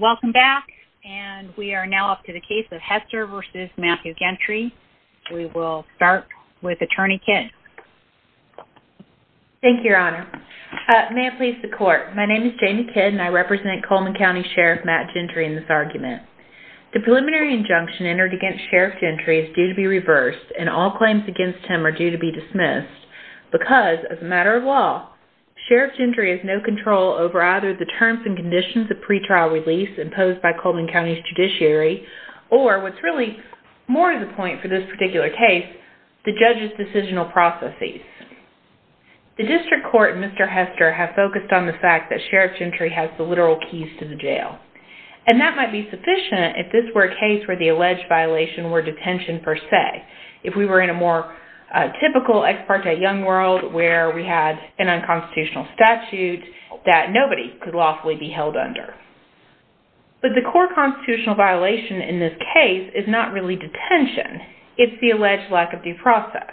Welcome back and we are now up to the case of Hester v. Matthew Gentry. We will start with Attorney Kidd. Thank you, Your Honor. May it please the Court, my name is Jamie Kidd and I represent Coleman County Sheriff Matt Gentry in this argument. The preliminary injunction entered against Sheriff Gentry is due to be reversed and all claims against him are due to be dismissed because, as a matter of law, Sheriff Gentry has no control over either the terms and conditions of pretrial release imposed by Coleman County's judiciary or, what's really more of the point for this particular case, the judge's decisional processes. The District Court and Mr. Hester have focused on the fact that Sheriff Gentry has the literal keys to the jail and that might be sufficient if this were a case where the alleged violation were detention per se. If we were in a more typical ex parte young world where we had an unconstitutional statute that nobody could lawfully be held under. But the core constitutional violation in this case is not really detention, it's the alleged lack of due process.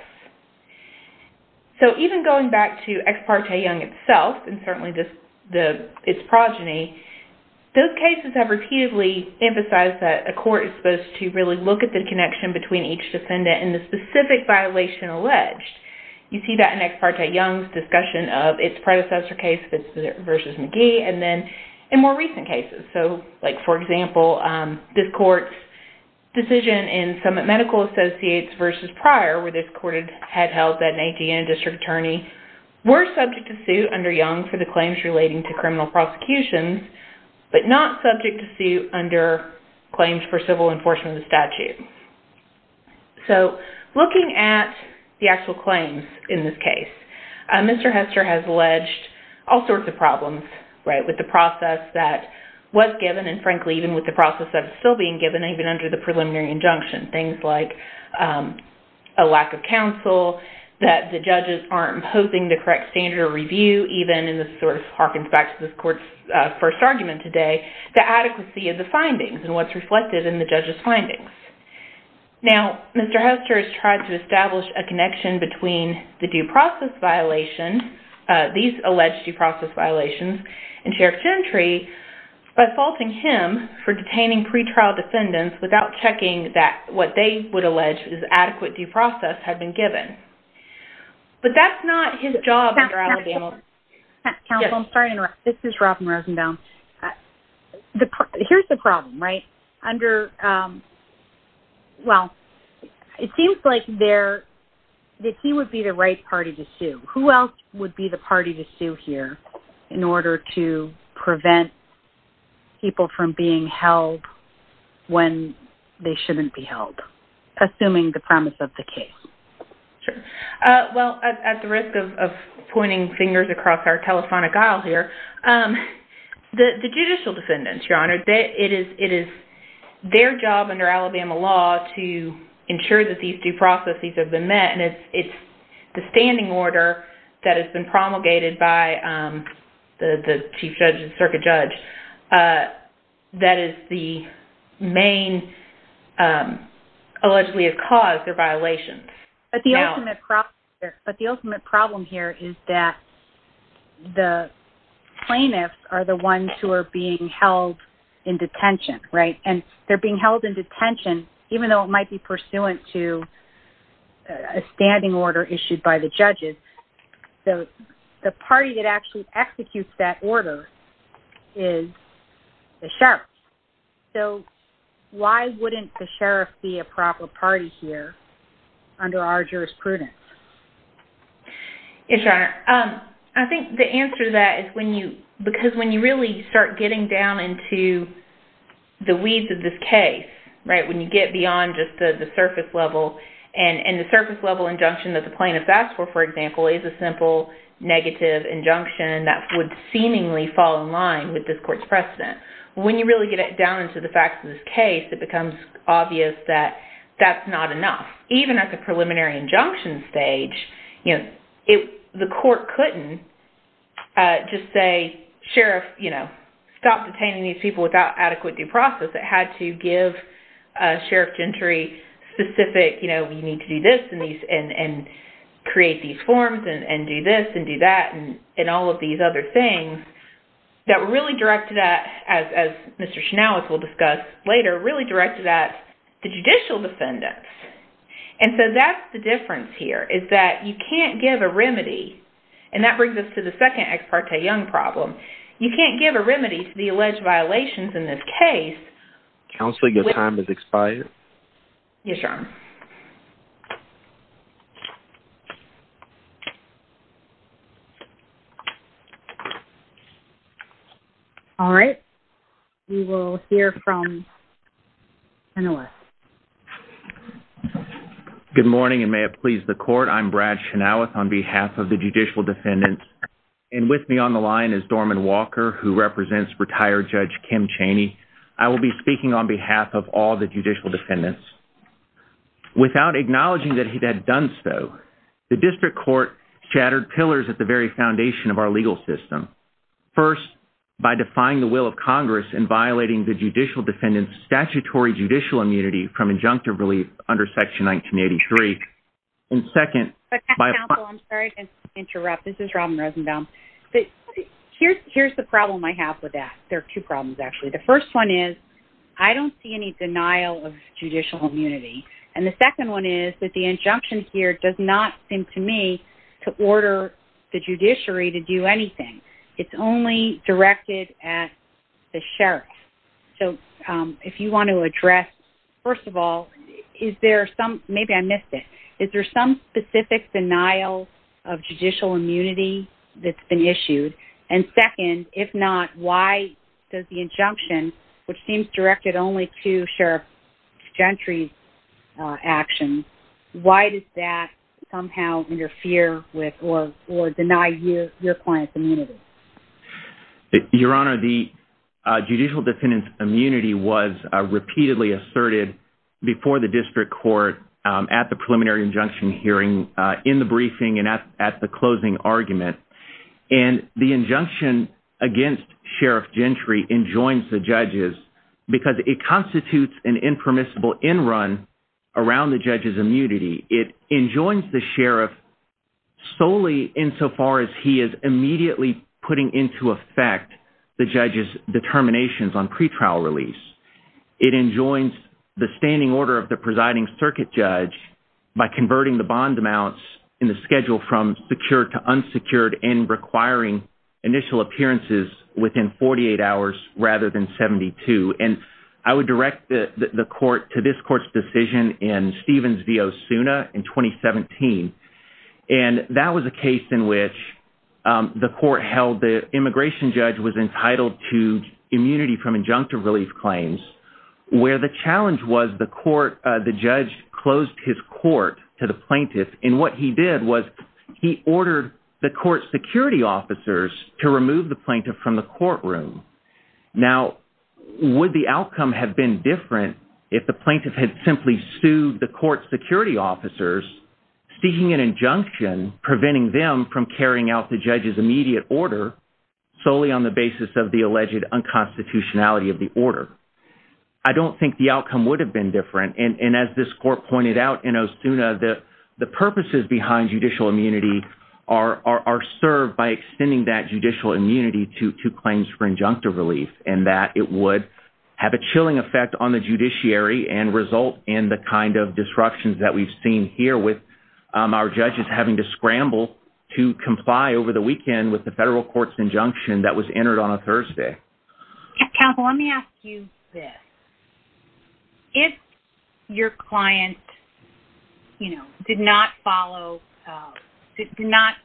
So even going back to ex parte young itself and certainly its progeny, those cases have repeatedly emphasized that a court is supposed to really look at the connection between each defendant and the specific violation alleged. You see that in ex parte young's discussion of its predecessor case, Fitzpatrick v. McGee, and then in more recent cases. For example, this court's decision in Summit Medical Associates v. Pryor where this court had held that an AT&T district attorney were subject to suit under young for the claims relating to criminal prosecutions but not subject to suit under claims for civil enforcement of the statute. Looking at the actual claims in this case, Mr. Hester has alleged all sorts of problems with the process that was given and frankly even with the process that is still being given even under the preliminary injunction. Things like a lack of counsel, that the judges aren't imposing the correct standard of review, even in this sort of harkens back to this court's first argument today, the adequacy of the findings and what's reflected in the judge's findings. Now, Mr. Hester has tried to establish a connection between the due process violation, these alleged due process violations, and Sheriff Gentry by faulting him for detaining pre-trial defendants without checking that what they would allege is adequate due process had been given. But that's not his job. Counsel, I'm sorry to interrupt. This is Robin Rosenbaum. Here's the problem, right? It seems like he would be the right party to sue. Who else would be the party to sue here in order to prevent people from being held when they shouldn't be held? Assuming the premise of the case. Well, at the risk of pointing fingers across our telephonic aisle here, the judicial defendants, Your Honor, it is their job under Alabama law to ensure that these due processes have been met, and it's the standing order that has been promulgated by the chief judge and circuit judge that is the main, allegedly has caused their violations. But the ultimate problem here is that the plaintiffs are the ones who are being held in detention, right? And they're being held in detention even though it might be pursuant to a standing order issued by the judges. The party that actually executes that order is the sheriff. So why wouldn't the sheriff be a proper party here under our jurisprudence? Yes, Your Honor. I think the answer to that is because when you really start getting down into the weeds of this case, when you get beyond just the surface level, and the surface level injunction that the plaintiffs asked for, for example, is a simple negative injunction that would seemingly fall in line with this court's precedent. When you really get down into the facts of this case, it becomes obvious that that's not enough. Even at the preliminary injunction stage, you know, the court couldn't just say, Sheriff, you know, stop detaining these people without adequate due process. It had to give Sheriff Gentry specific, you know, you need to do this and create these forms and do this and do that and all of these other things that were really directed at, as Mr. Schnauz will discuss later, really directed at the judicial defendants. And so that's the difference here, is that you can't give a remedy. And that brings us to the second Ex Parte Young problem. You can't give a remedy to the alleged violations in this case. Yes, Your Honor. All right. We will hear from Chenoweth. Good morning, and may it please the court. I'm Brad Chenoweth on behalf of the judicial defendants. And with me on the line is Dorman Walker, who represents retired Judge Kim Chaney. I will be speaking on behalf of all the judicial defendants. Without acknowledging that he had done so, the district court shattered pillars at the very foundation of our legal system. First, by defying the will of Congress and violating the judicial defendants' statutory judicial immunity from injunctive relief under Section 1983. And second, by- Counsel, I'm sorry to interrupt. This is Robin Rosenbaum. Here's the problem I have with that. There are two problems, actually. The first one is, I don't see any denial of judicial immunity. And the second one is that the injunction here does not seem to me to order the judiciary to do anything. It's only directed at the sheriff. So, if you want to address, first of all, is there some- Maybe I missed it. Is there some specific denial of judicial immunity that's been issued? And second, if not, why does the injunction, which seems directed only to sheriff Gentry's actions, why does that somehow interfere with or deny your client's immunity? Your Honor, the judicial defendants' immunity was repeatedly asserted before the district court at the preliminary injunction hearing, in the briefing, and at the closing argument. And the injunction against Sheriff Gentry enjoins the judges because it constitutes an impermissible end run around the judge's immunity. It enjoins the sheriff solely insofar as he is immediately putting into effect the judge's determinations on pretrial release. It enjoins the standing order of the presiding circuit judge by converting the bond amounts in the schedule from secured to unsecured and requiring initial appearances within 48 hours rather than 72. And I would direct the court to this court's decision in Stevens v. Osuna in 2017. And that was a case in which the immigration judge was entitled to immunity from injunctive relief claims, where the challenge was the judge closed his court to the plaintiff. And what he did was he ordered the court security officers to remove the plaintiff from the courtroom. Now, would the outcome have been different if the plaintiff had simply sued the court security officers, seeking an injunction preventing them from carrying out the judge's immediate order solely on the basis of the alleged unconstitutionality of the order? I don't think the outcome would have been different. And as this court pointed out in Osuna, the purposes behind judicial immunity are served by extending that judicial immunity to claims for injunctive relief and that it would have a chilling effect on the judiciary and result in the kind of disruptions that we've seen here with our judges having to scramble to comply over the weekend with the federal court's injunction that was entered on a Thursday. Counsel, let me ask you this. If your client, you know, did not follow, did not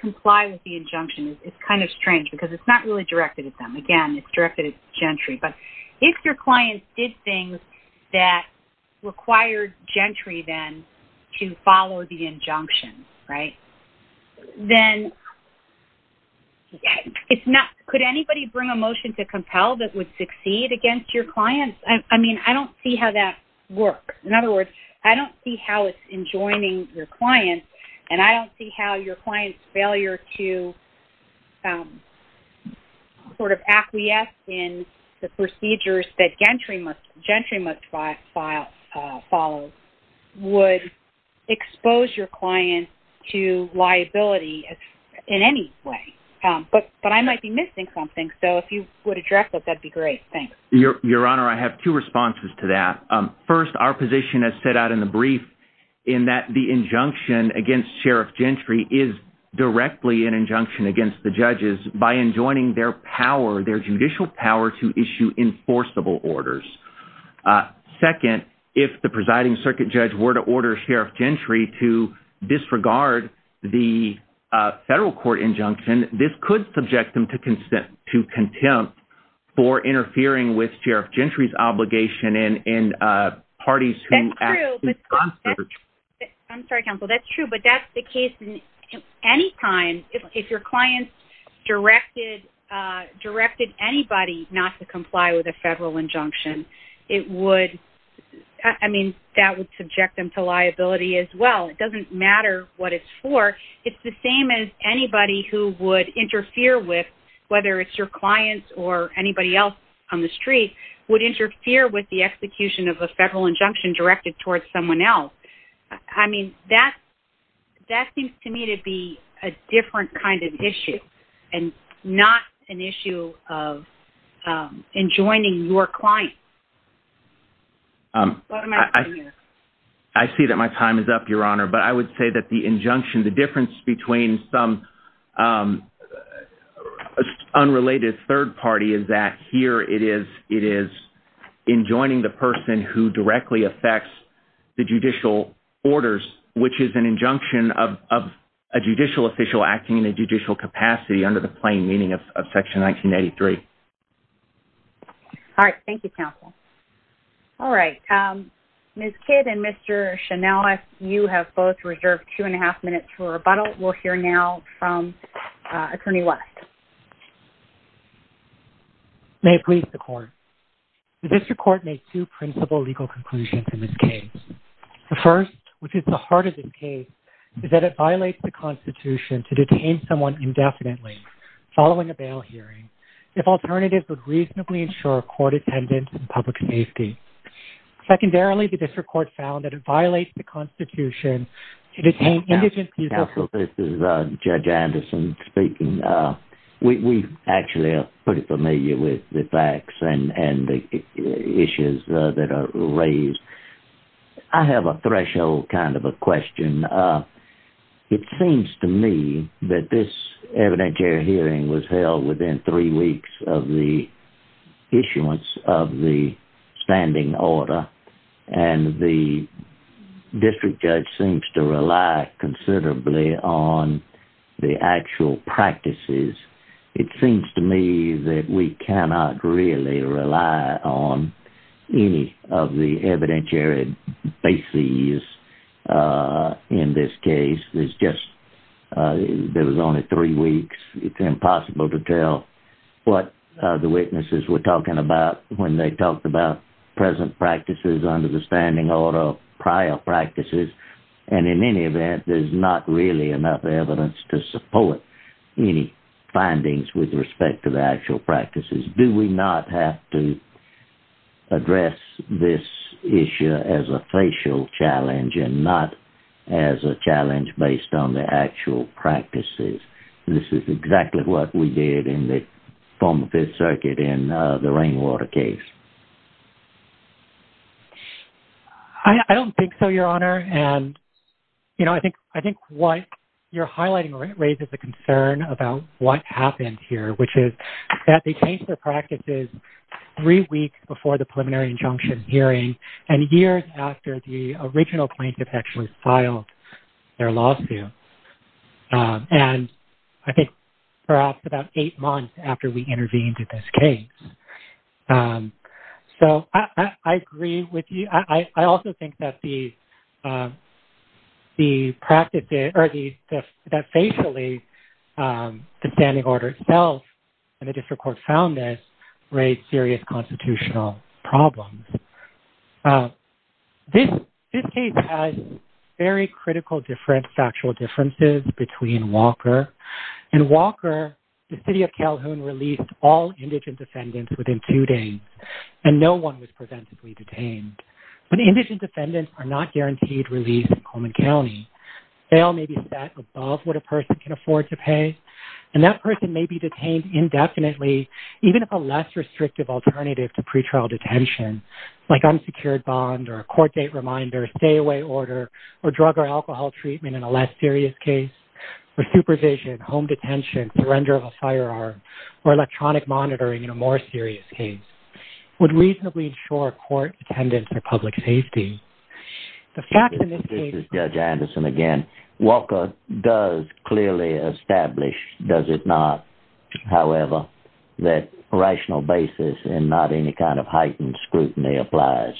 comply with the injunction, it's kind of strange because it's not really directed at them. Again, it's directed at the gentry. But if your client did things that required gentry then to follow the injunction, right, then could anybody bring a motion to compel that would succeed against your client? I mean, I don't see how that works. In other words, I don't see how it's enjoining your client and I don't see how your client's failure to sort of acquiesce in the procedures that gentry must follow would expose your client to liability in any way. But I might be missing something. So if you would address that, that would be great. Thanks. Your Honor, I have two responses to that. First, our position as set out in the brief in that the injunction against Sheriff Gentry is directly an injunction against the judges by enjoining their power, their judicial power to issue enforceable orders. Second, if the presiding circuit judge were to order Sheriff Gentry to disregard the federal court injunction, this could subject them to contempt for interfering with Sheriff Gentry's obligation and parties who act in concert. That's true. I'm sorry, counsel. Well, that's true. But that's the case any time. If your client directed anybody not to comply with a federal injunction, it would, I mean, that would subject them to liability as well. It doesn't matter what it's for. It's the same as anybody who would interfere with, whether it's your clients or anybody else on the street, would interfere with the execution of a federal injunction directed towards someone else. I mean, that seems to me to be a different kind of issue and not an issue of enjoining your client. I see that my time is up, Your Honor, but I would say that the injunction, the difference between some unrelated third party is that here it is enjoining the person who directly affects the judicial orders, which is an injunction of a judicial official acting in a judicial capacity under the plain meaning of Section 1983. All right. Thank you, counsel. All right. Ms. Kidd and Mr. Shanellis, you have both reserved two and a half minutes for rebuttal. We'll hear now from Attorney West. May it please the Court. The District Court made two principal legal conclusions in this case. The first, which is the heart of this case, is that it violates the Constitution to detain someone indefinitely following a bail hearing if alternatives would reasonably ensure court attendance and public safety. Secondarily, the District Court found that it violates the Constitution to detain indigent people. Counsel, this is Judge Anderson speaking. We actually are pretty familiar with the facts and the issues that are raised. I have a threshold kind of a question. It seems to me that this evidentiary hearing was held within three weeks of the issuance of the standing order, and the district judge seems to rely considerably on the actual practices. It seems to me that we cannot really rely on any of the evidentiary bases in this case. There was only three weeks. It's impossible to tell what the witnesses were talking about when they talked about present practices under the standing order, prior practices. In any event, there's not really enough evidence to support any findings with respect to the actual practices. Do we not have to address this issue as a facial challenge and not as a challenge based on the actual practices? This is exactly what we did in the former Fifth Circuit in the Rainwater case. I don't think so, Your Honor. I think what you're highlighting raises a concern about what happened here, which is that they changed their practices three weeks before the preliminary injunction hearing and years after the original plaintiff actually filed their lawsuit, and I think perhaps about eight months after we intervened in this case. So I agree with you. I also think that the practices or that facially the standing order itself and the district court found this raised serious constitutional problems. This case has very critical different factual differences between Walker. In Walker, the city of Calhoun released all indigent defendants within two days, and no one was preventively detained. But indigent defendants are not guaranteed release in Cullman County. They all may be set above what a person can afford to pay, and that person may be detained indefinitely even if a less restrictive alternative to pretrial detention, like unsecured bond or a court date reminder, stay-away order, or drug or alcohol treatment in a less serious case, or supervision, home detention, surrender of a firearm, or electronic monitoring in a more serious case, would reasonably ensure court attendance or public safety. The fact in this case... This is Judge Anderson again. Walker does clearly establish, does it not, however, that a rational basis and not any kind of heightened scrutiny applies.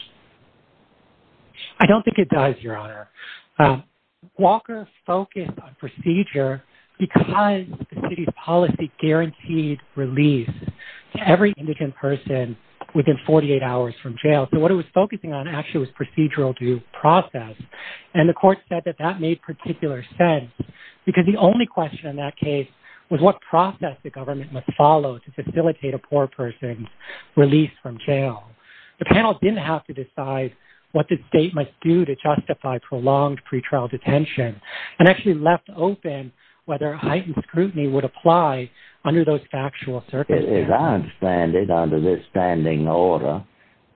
I don't think it does, Your Honor. Walker focused on procedure because the city's policy guaranteed release to every indigent person within 48 hours from jail. So what it was focusing on actually was procedural due process, and the court said that that made particular sense because the only question in that case was what process the government must follow to facilitate a poor person's release from jail. The panel didn't have to decide what the state must do to justify prolonged pretrial detention and actually left open whether heightened scrutiny would apply under those factual circumstances. As I understand it, under this standing order,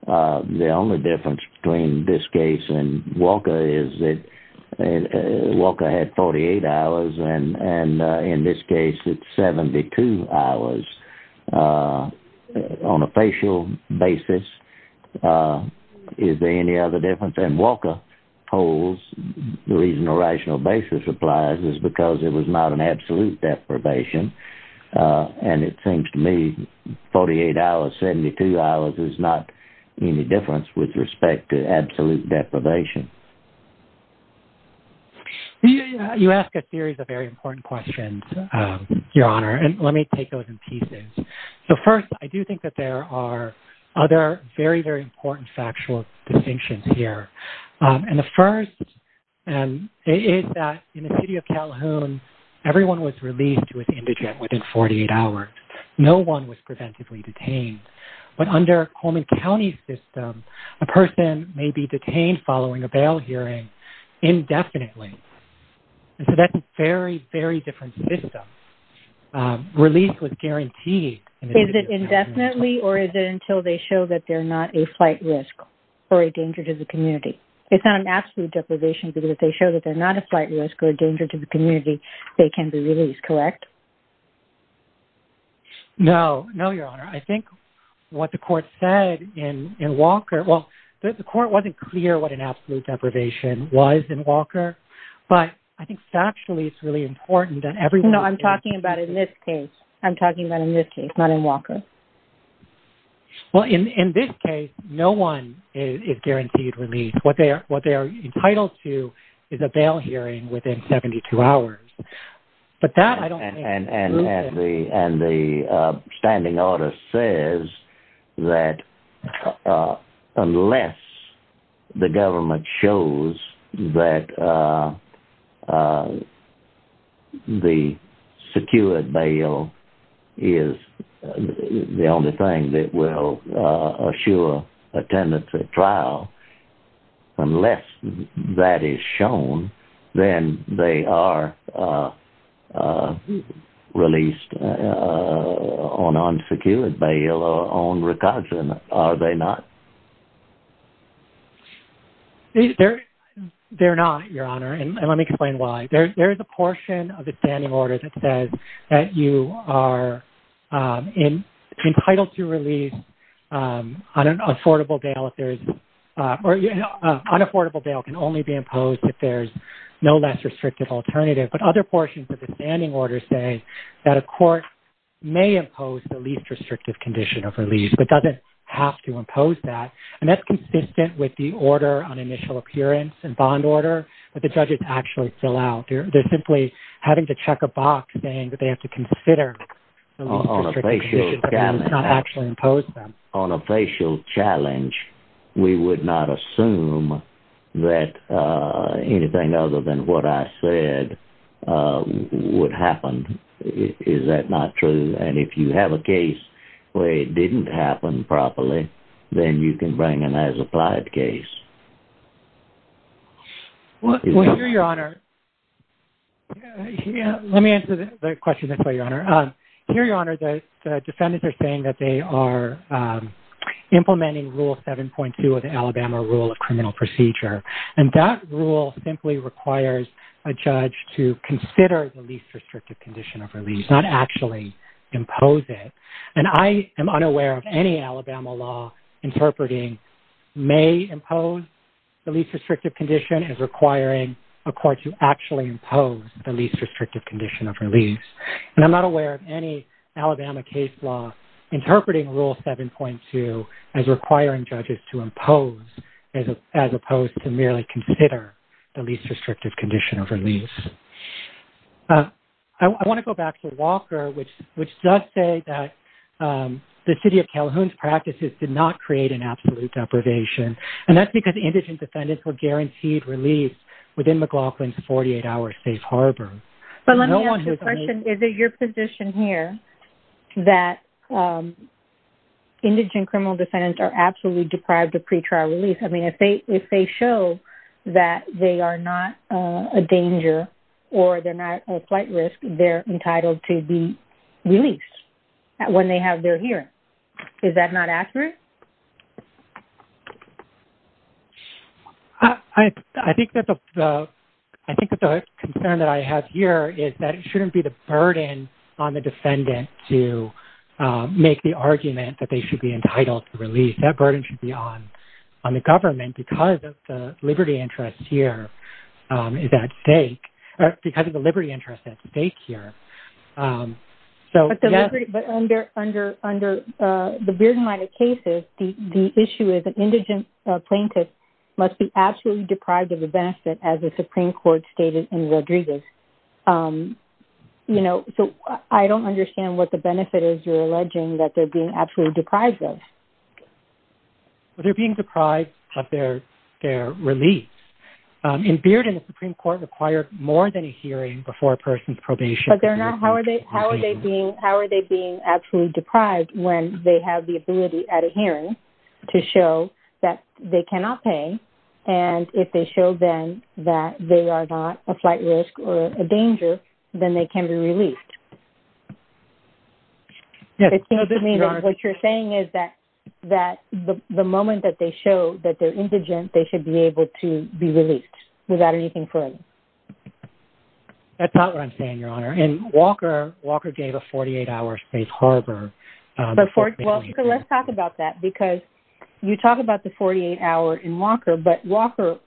the only difference between this case and Walker is that Walker had 48 hours, and in this case it's 72 hours on a facial basis. Is there any other difference? And Walker holds the reason a rational basis applies is because it was not an absolute deprivation, and it seems to me 48 hours, 72 hours is not any difference with respect to absolute deprivation. You ask a series of very important questions, Your Honor, and let me take those in pieces. So first, I do think that there are other very, very important factual distinctions here, and the first is that in the city of Calhoun, everyone was released with indigent within 48 hours. No one was preventively detained, but under Coleman County's system, a person may be detained following a bail hearing indefinitely. So that's a very, very different system. Release was guaranteed. Is it indefinitely, or is it until they show that they're not a flight risk or a danger to the community? It's not an absolute deprivation because if they show that they're not a flight risk or a danger to the community, they can be released, correct? No, no, Your Honor. I think what the court said in Walker—well, the court wasn't clear what an absolute deprivation was in Walker, but I think factually it's really important that everyone— No, I'm talking about in this case. I'm talking about in this case, not in Walker. Well, in this case, no one is guaranteed release. What they are entitled to is a bail hearing within 72 hours. And the standing order says that unless the government shows that the secured bail is the only thing that will assure attendance at trial, unless that is shown, then they are released on unsecured bail or on recognition. Are they not? They're not, Your Honor, and let me explain why. There is a portion of the standing order that says that you are entitled to release on an affordable bail if there is— or an unaffordable bail can only be imposed if there's no less restrictive alternative. But other portions of the standing order say that a court may impose the least restrictive condition of release, but doesn't have to impose that, and that's consistent with the order on initial appearance and bond order that the judges actually fill out. They're simply having to check a box saying that they have to consider the least restrictive condition, but that does not actually impose them. On a facial challenge, we would not assume that anything other than what I said would happen. Is that not true? And if you have a case where it didn't happen properly, then you can bring an as-applied case. Well, here, Your Honor—let me answer the question this way, Your Honor. Here, Your Honor, the defendants are saying that they are implementing Rule 7.2 of the Alabama Rule of Criminal Procedure, and that rule simply requires a judge to consider the least restrictive condition of release, not actually impose it. And I am unaware of any Alabama law interpreting may impose the least restrictive condition as requiring a court to actually impose the least restrictive condition of release. And I'm not aware of any Alabama case law interpreting Rule 7.2 as requiring judges to impose as opposed to merely consider the least restrictive condition of release. I want to go back to Walker, which does say that the City of Calhoun's practices did not create an absolute deprivation, and that's because indigent defendants were guaranteed release within McLaughlin's 48-hour safe harbor. But let me ask you a question. Is it your position here that indigent criminal defendants are absolutely deprived of pretrial release? I mean, if they show that they are not a danger or they're not a flight risk, they're entitled to be released when they have their hearing. Is that not accurate? I think that the concern that I have here is that it shouldn't be the burden on the defendant to make the argument that they should be entitled to release. That burden should be on the government because the liberty interest here is at stake, or because of the liberty interest at stake here. But under the Bearden-Leiter cases, the issue is that indigent plaintiffs must be absolutely deprived of the benefit, as the Supreme Court stated in Rodriguez. So I don't understand what the benefit is you're alleging that they're being absolutely deprived of. They're being deprived of their release. In Bearden, the Supreme Court required more than a hearing before a person's probation. But they're not. How are they being absolutely deprived when they have the ability at a hearing to show that they cannot pay, and if they show then that they are not a flight risk or a danger, then they can be released. It seems to me that what you're saying is that the moment that they show that they're indigent, they should be able to be released without anything further. That's not what I'm saying, Your Honor. In Walker, Walker gave a 48-hour space harbor for bailing. Well, let's talk about that because you talk about the 48-hour in Walker, but Walker,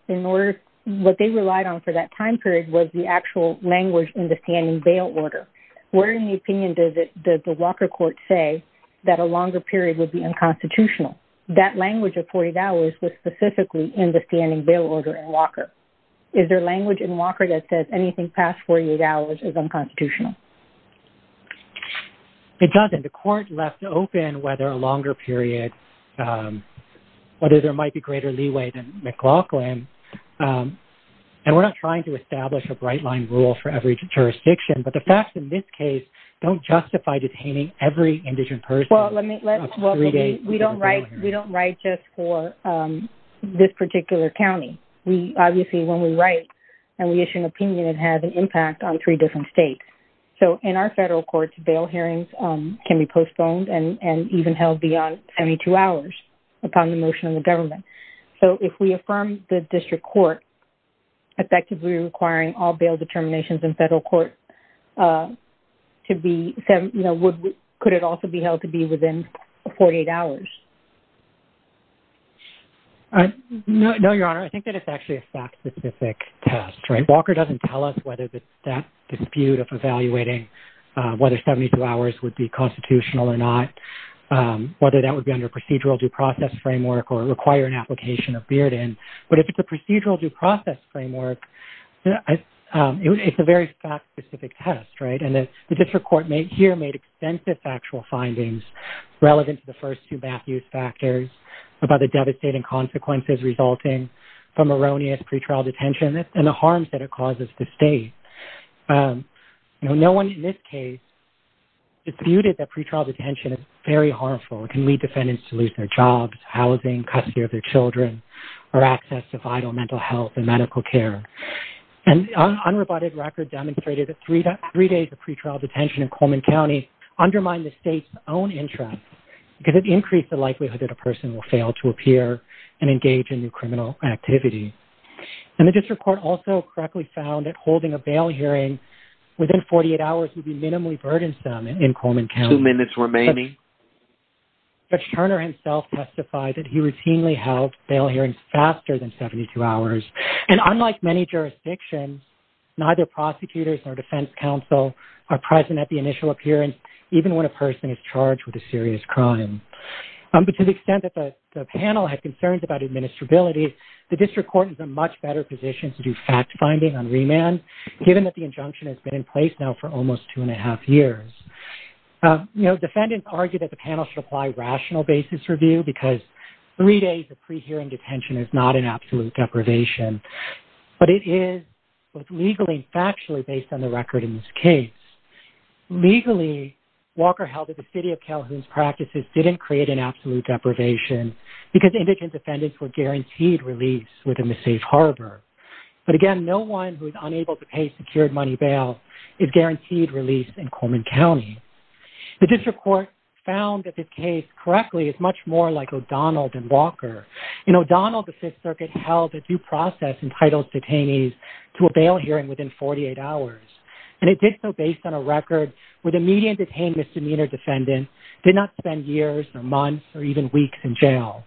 what they relied on for that time period was the actual language in the standing bail order. Where in the opinion does the Walker court say that a longer period would be unconstitutional? That language of 48 hours was specifically in the standing bail order in Walker. Is there language in Walker that says anything past 48 hours is unconstitutional? It doesn't. The court left open whether a longer period, whether there might be greater leeway than McLaughlin. And we're not trying to establish a bright-line rule for every jurisdiction, but the facts in this case don't justify detaining every indigent person. Well, we don't write just for this particular county. We obviously, when we write and we issue an opinion, it has an impact on three different states. So in our federal courts, bail hearings can be postponed and even held beyond 72 hours upon the motion of the government. So if we affirm the district court effectively requiring all bail determinations in federal court, could it also be held to be within 48 hours? No, Your Honor. I think that it's actually a fact-specific test. Walker doesn't tell us whether that dispute of evaluating whether 72 hours would be constitutional or not, whether that would be under procedural due process framework or require an application of Bearden. But if it's a procedural due process framework, it's a very fact-specific test, right? And the district court here made extensive factual findings relevant to the first two math use factors about the devastating consequences resulting from erroneous pretrial detention and the harms that it causes the state. No one in this case disputed that pretrial detention is very harmful. It can lead defendants to lose their jobs, housing, custody of their children, or access to vital mental health and medical care. And unroboted record demonstrated that three days of pretrial detention in Coleman County undermined the state's own interest because it increased the likelihood that a person will fail to appear and engage in new criminal activity. And the district court also correctly found that holding a bail hearing within 48 hours would be minimally burdensome in Coleman County. Two minutes remaining. Judge Turner himself testified that he routinely held bail hearings faster than 72 hours. And unlike many jurisdictions, neither prosecutors nor defense counsel are present at the initial appearance, even when a person is charged with a serious crime. But to the extent that the panel had concerns about administrability, the district court is in a much better position to do fact-finding on remand, given that the injunction has been in place now for almost two and a half years. You know, defendants argue that the panel should apply rational basis review because three days of pre-hearing detention is not an absolute deprivation. But it is both legally and factually based on the record in this case. Legally, Walker held that the City of Calhoun's practices didn't create an absolute deprivation because indigent defendants were guaranteed release within the safe harbor. But again, no one who is unable to pay secured money bail is guaranteed release in Coleman County. The district court found that this case correctly is much more like O'Donnell than Walker. In O'Donnell, the Fifth Circuit held that due process entitles detainees to a bail hearing within 48 hours. And it did so based on a record where the median detained misdemeanor defendant did not spend years or months or even weeks in jail.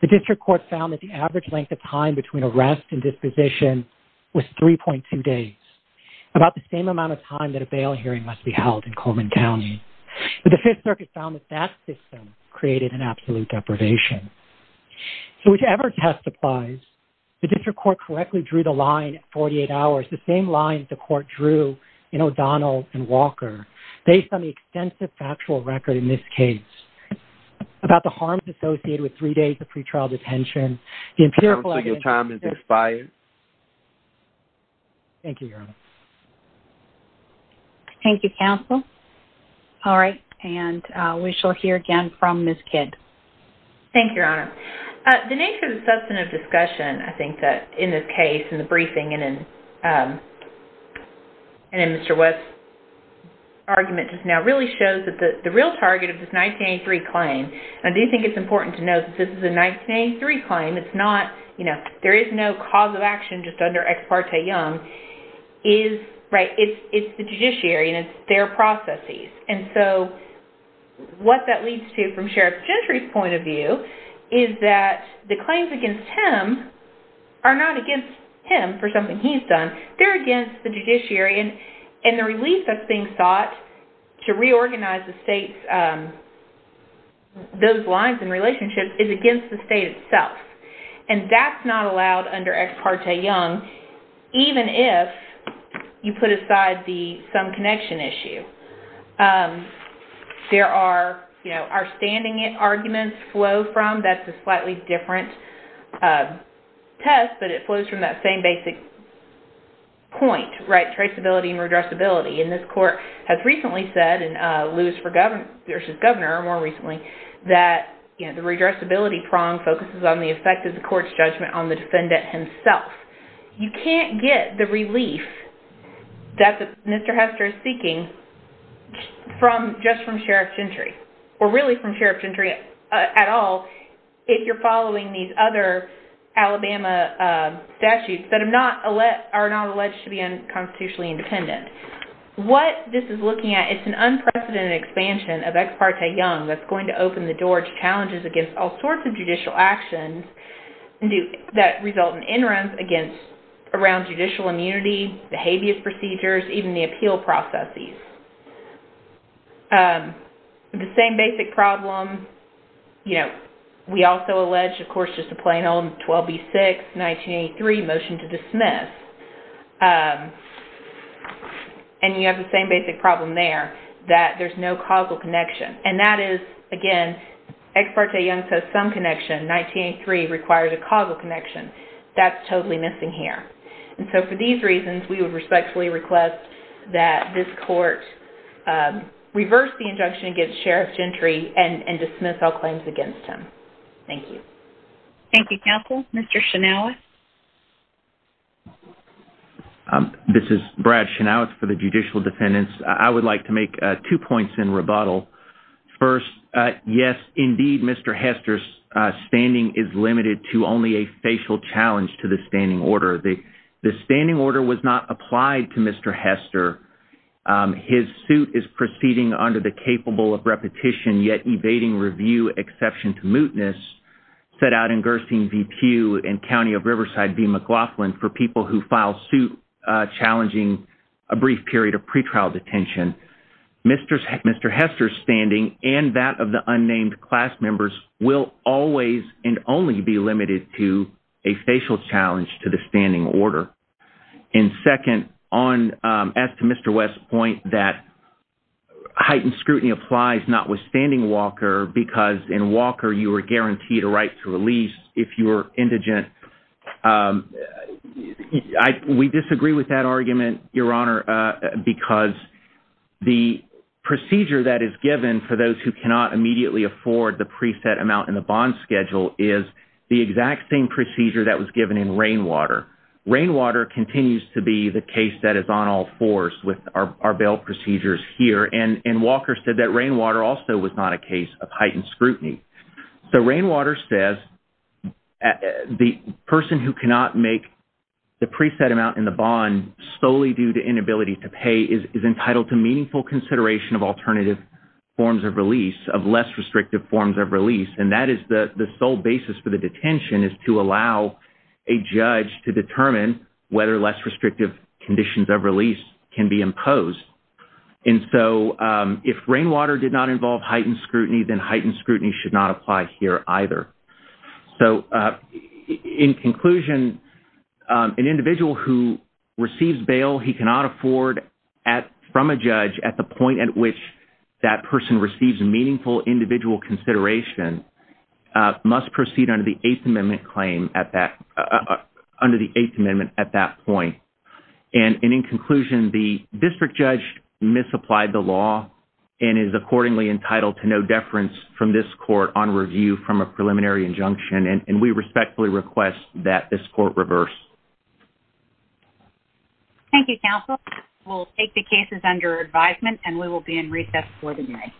The district court found that the average length of time between arrest and disposition was 3.2 days, about the same amount of time that a bail hearing must be held in Coleman County. But the Fifth Circuit found that that system created an absolute deprivation. So whichever test applies, the district court correctly drew the line at 48 hours, the same line that the court drew in O'Donnell and Walker, based on the extensive factual record in this case, about the harms associated with three days of pretrial detention. Counsel, your time has expired. Thank you, Your Honor. Thank you, Counsel. All right, and we shall hear again from Ms. Kidd. Thank you, Your Honor. The nature of the substantive discussion, I think, in this case, in the briefing, and in Mr. West's argument just now, really shows that the real target of this 1983 claim, and I do think it's important to note that this is a 1983 claim. It's not, you know, there is no cause of action just under Ex parte Young. It's the judiciary and it's their processes. And so what that leads to, from Sheriff Gentry's point of view, is that the claims against him are not against him for something he's done. They're against the judiciary. And the relief that's being sought to reorganize the state's, those lines and relationships, is against the state itself. And that's not allowed under Ex parte Young, even if you put aside the some connection issue. There are, you know, our standing arguments flow from, that's a slightly different test, but it flows from that same basic point, right? Traceability and redressability. And this Court has recently said, in Lewis v. Governor more recently, that the redressability prong focuses on the effect of the Court's judgment on the defendant himself. You can't get the relief that Mr. Hester is seeking from, just from Sheriff Gentry, or really from Sheriff Gentry at all, if you're following these other Alabama statutes that are not alleged to be unconstitutionally independent. What this is looking at, it's an unprecedented expansion of Ex parte Young that's going to open the door to challenges against all sorts of judicial actions that result in inruns against, around judicial immunity, behavior procedures, even the appeal processes. The same basic problem, you know, we also allege, of course, just to plain old 12B6, 1983, motion to dismiss. And you have the same basic problem there, that there's no causal connection. And that is, again, Ex parte Young says some connection, 1983 requires a causal connection. That's totally missing here. And so for these reasons, we would respectfully request that this Court reverse the injunction against Sheriff Gentry and dismiss all claims against him. Thank you. Thank you, Counsel. Mr. Shinaweth? This is Brad Shinaweth for the Judicial Defendants. I would like to make two points in rebuttal. First, yes, indeed, Mr. Hester's standing is limited to only a facial challenge to the standing order. The standing order was not applied to Mr. Hester. His suit is proceeding under the capable of repetition, yet evading review exception to mootness set out in Gersing v. Pew and County of Riverside v. McLaughlin for people who file suit challenging a brief period of pretrial detention. Mr. Hester's standing and that of the unnamed class members will always and only be limited to a facial challenge to the standing order. And second, as to Mr. West's point that heightened scrutiny applies notwithstanding Walker because in Walker you are guaranteed a right to release if you're indigent. We disagree with that argument, Your Honor, because the procedure that is given for those who cannot immediately afford the preset amount in the bond schedule is the exact same procedure that was given in Rainwater. Rainwater continues to be the case that is on all fours with our bail procedures here, and Walker said that Rainwater also was not a case of heightened scrutiny. So Rainwater says the person who cannot make the preset amount in the bond solely due to inability to pay is entitled to meaningful consideration of alternative forms of release, of less restrictive forms of release, and that is the sole basis for the detention is to allow a judge to determine whether less restrictive conditions of release can be imposed. And so if Rainwater did not involve heightened scrutiny, then heightened scrutiny should not apply here either. So in conclusion, an individual who receives bail he cannot afford from a judge at the point at which that person receives meaningful individual consideration must proceed under the Eighth Amendment claim at that point. And in conclusion, the district judge misapplied the law and is accordingly entitled to no deference from this court on review from a preliminary injunction, and we respectfully request that this court reverse. Thank you, counsel. We'll take the cases under advisement, and we will be in recess for the hearing.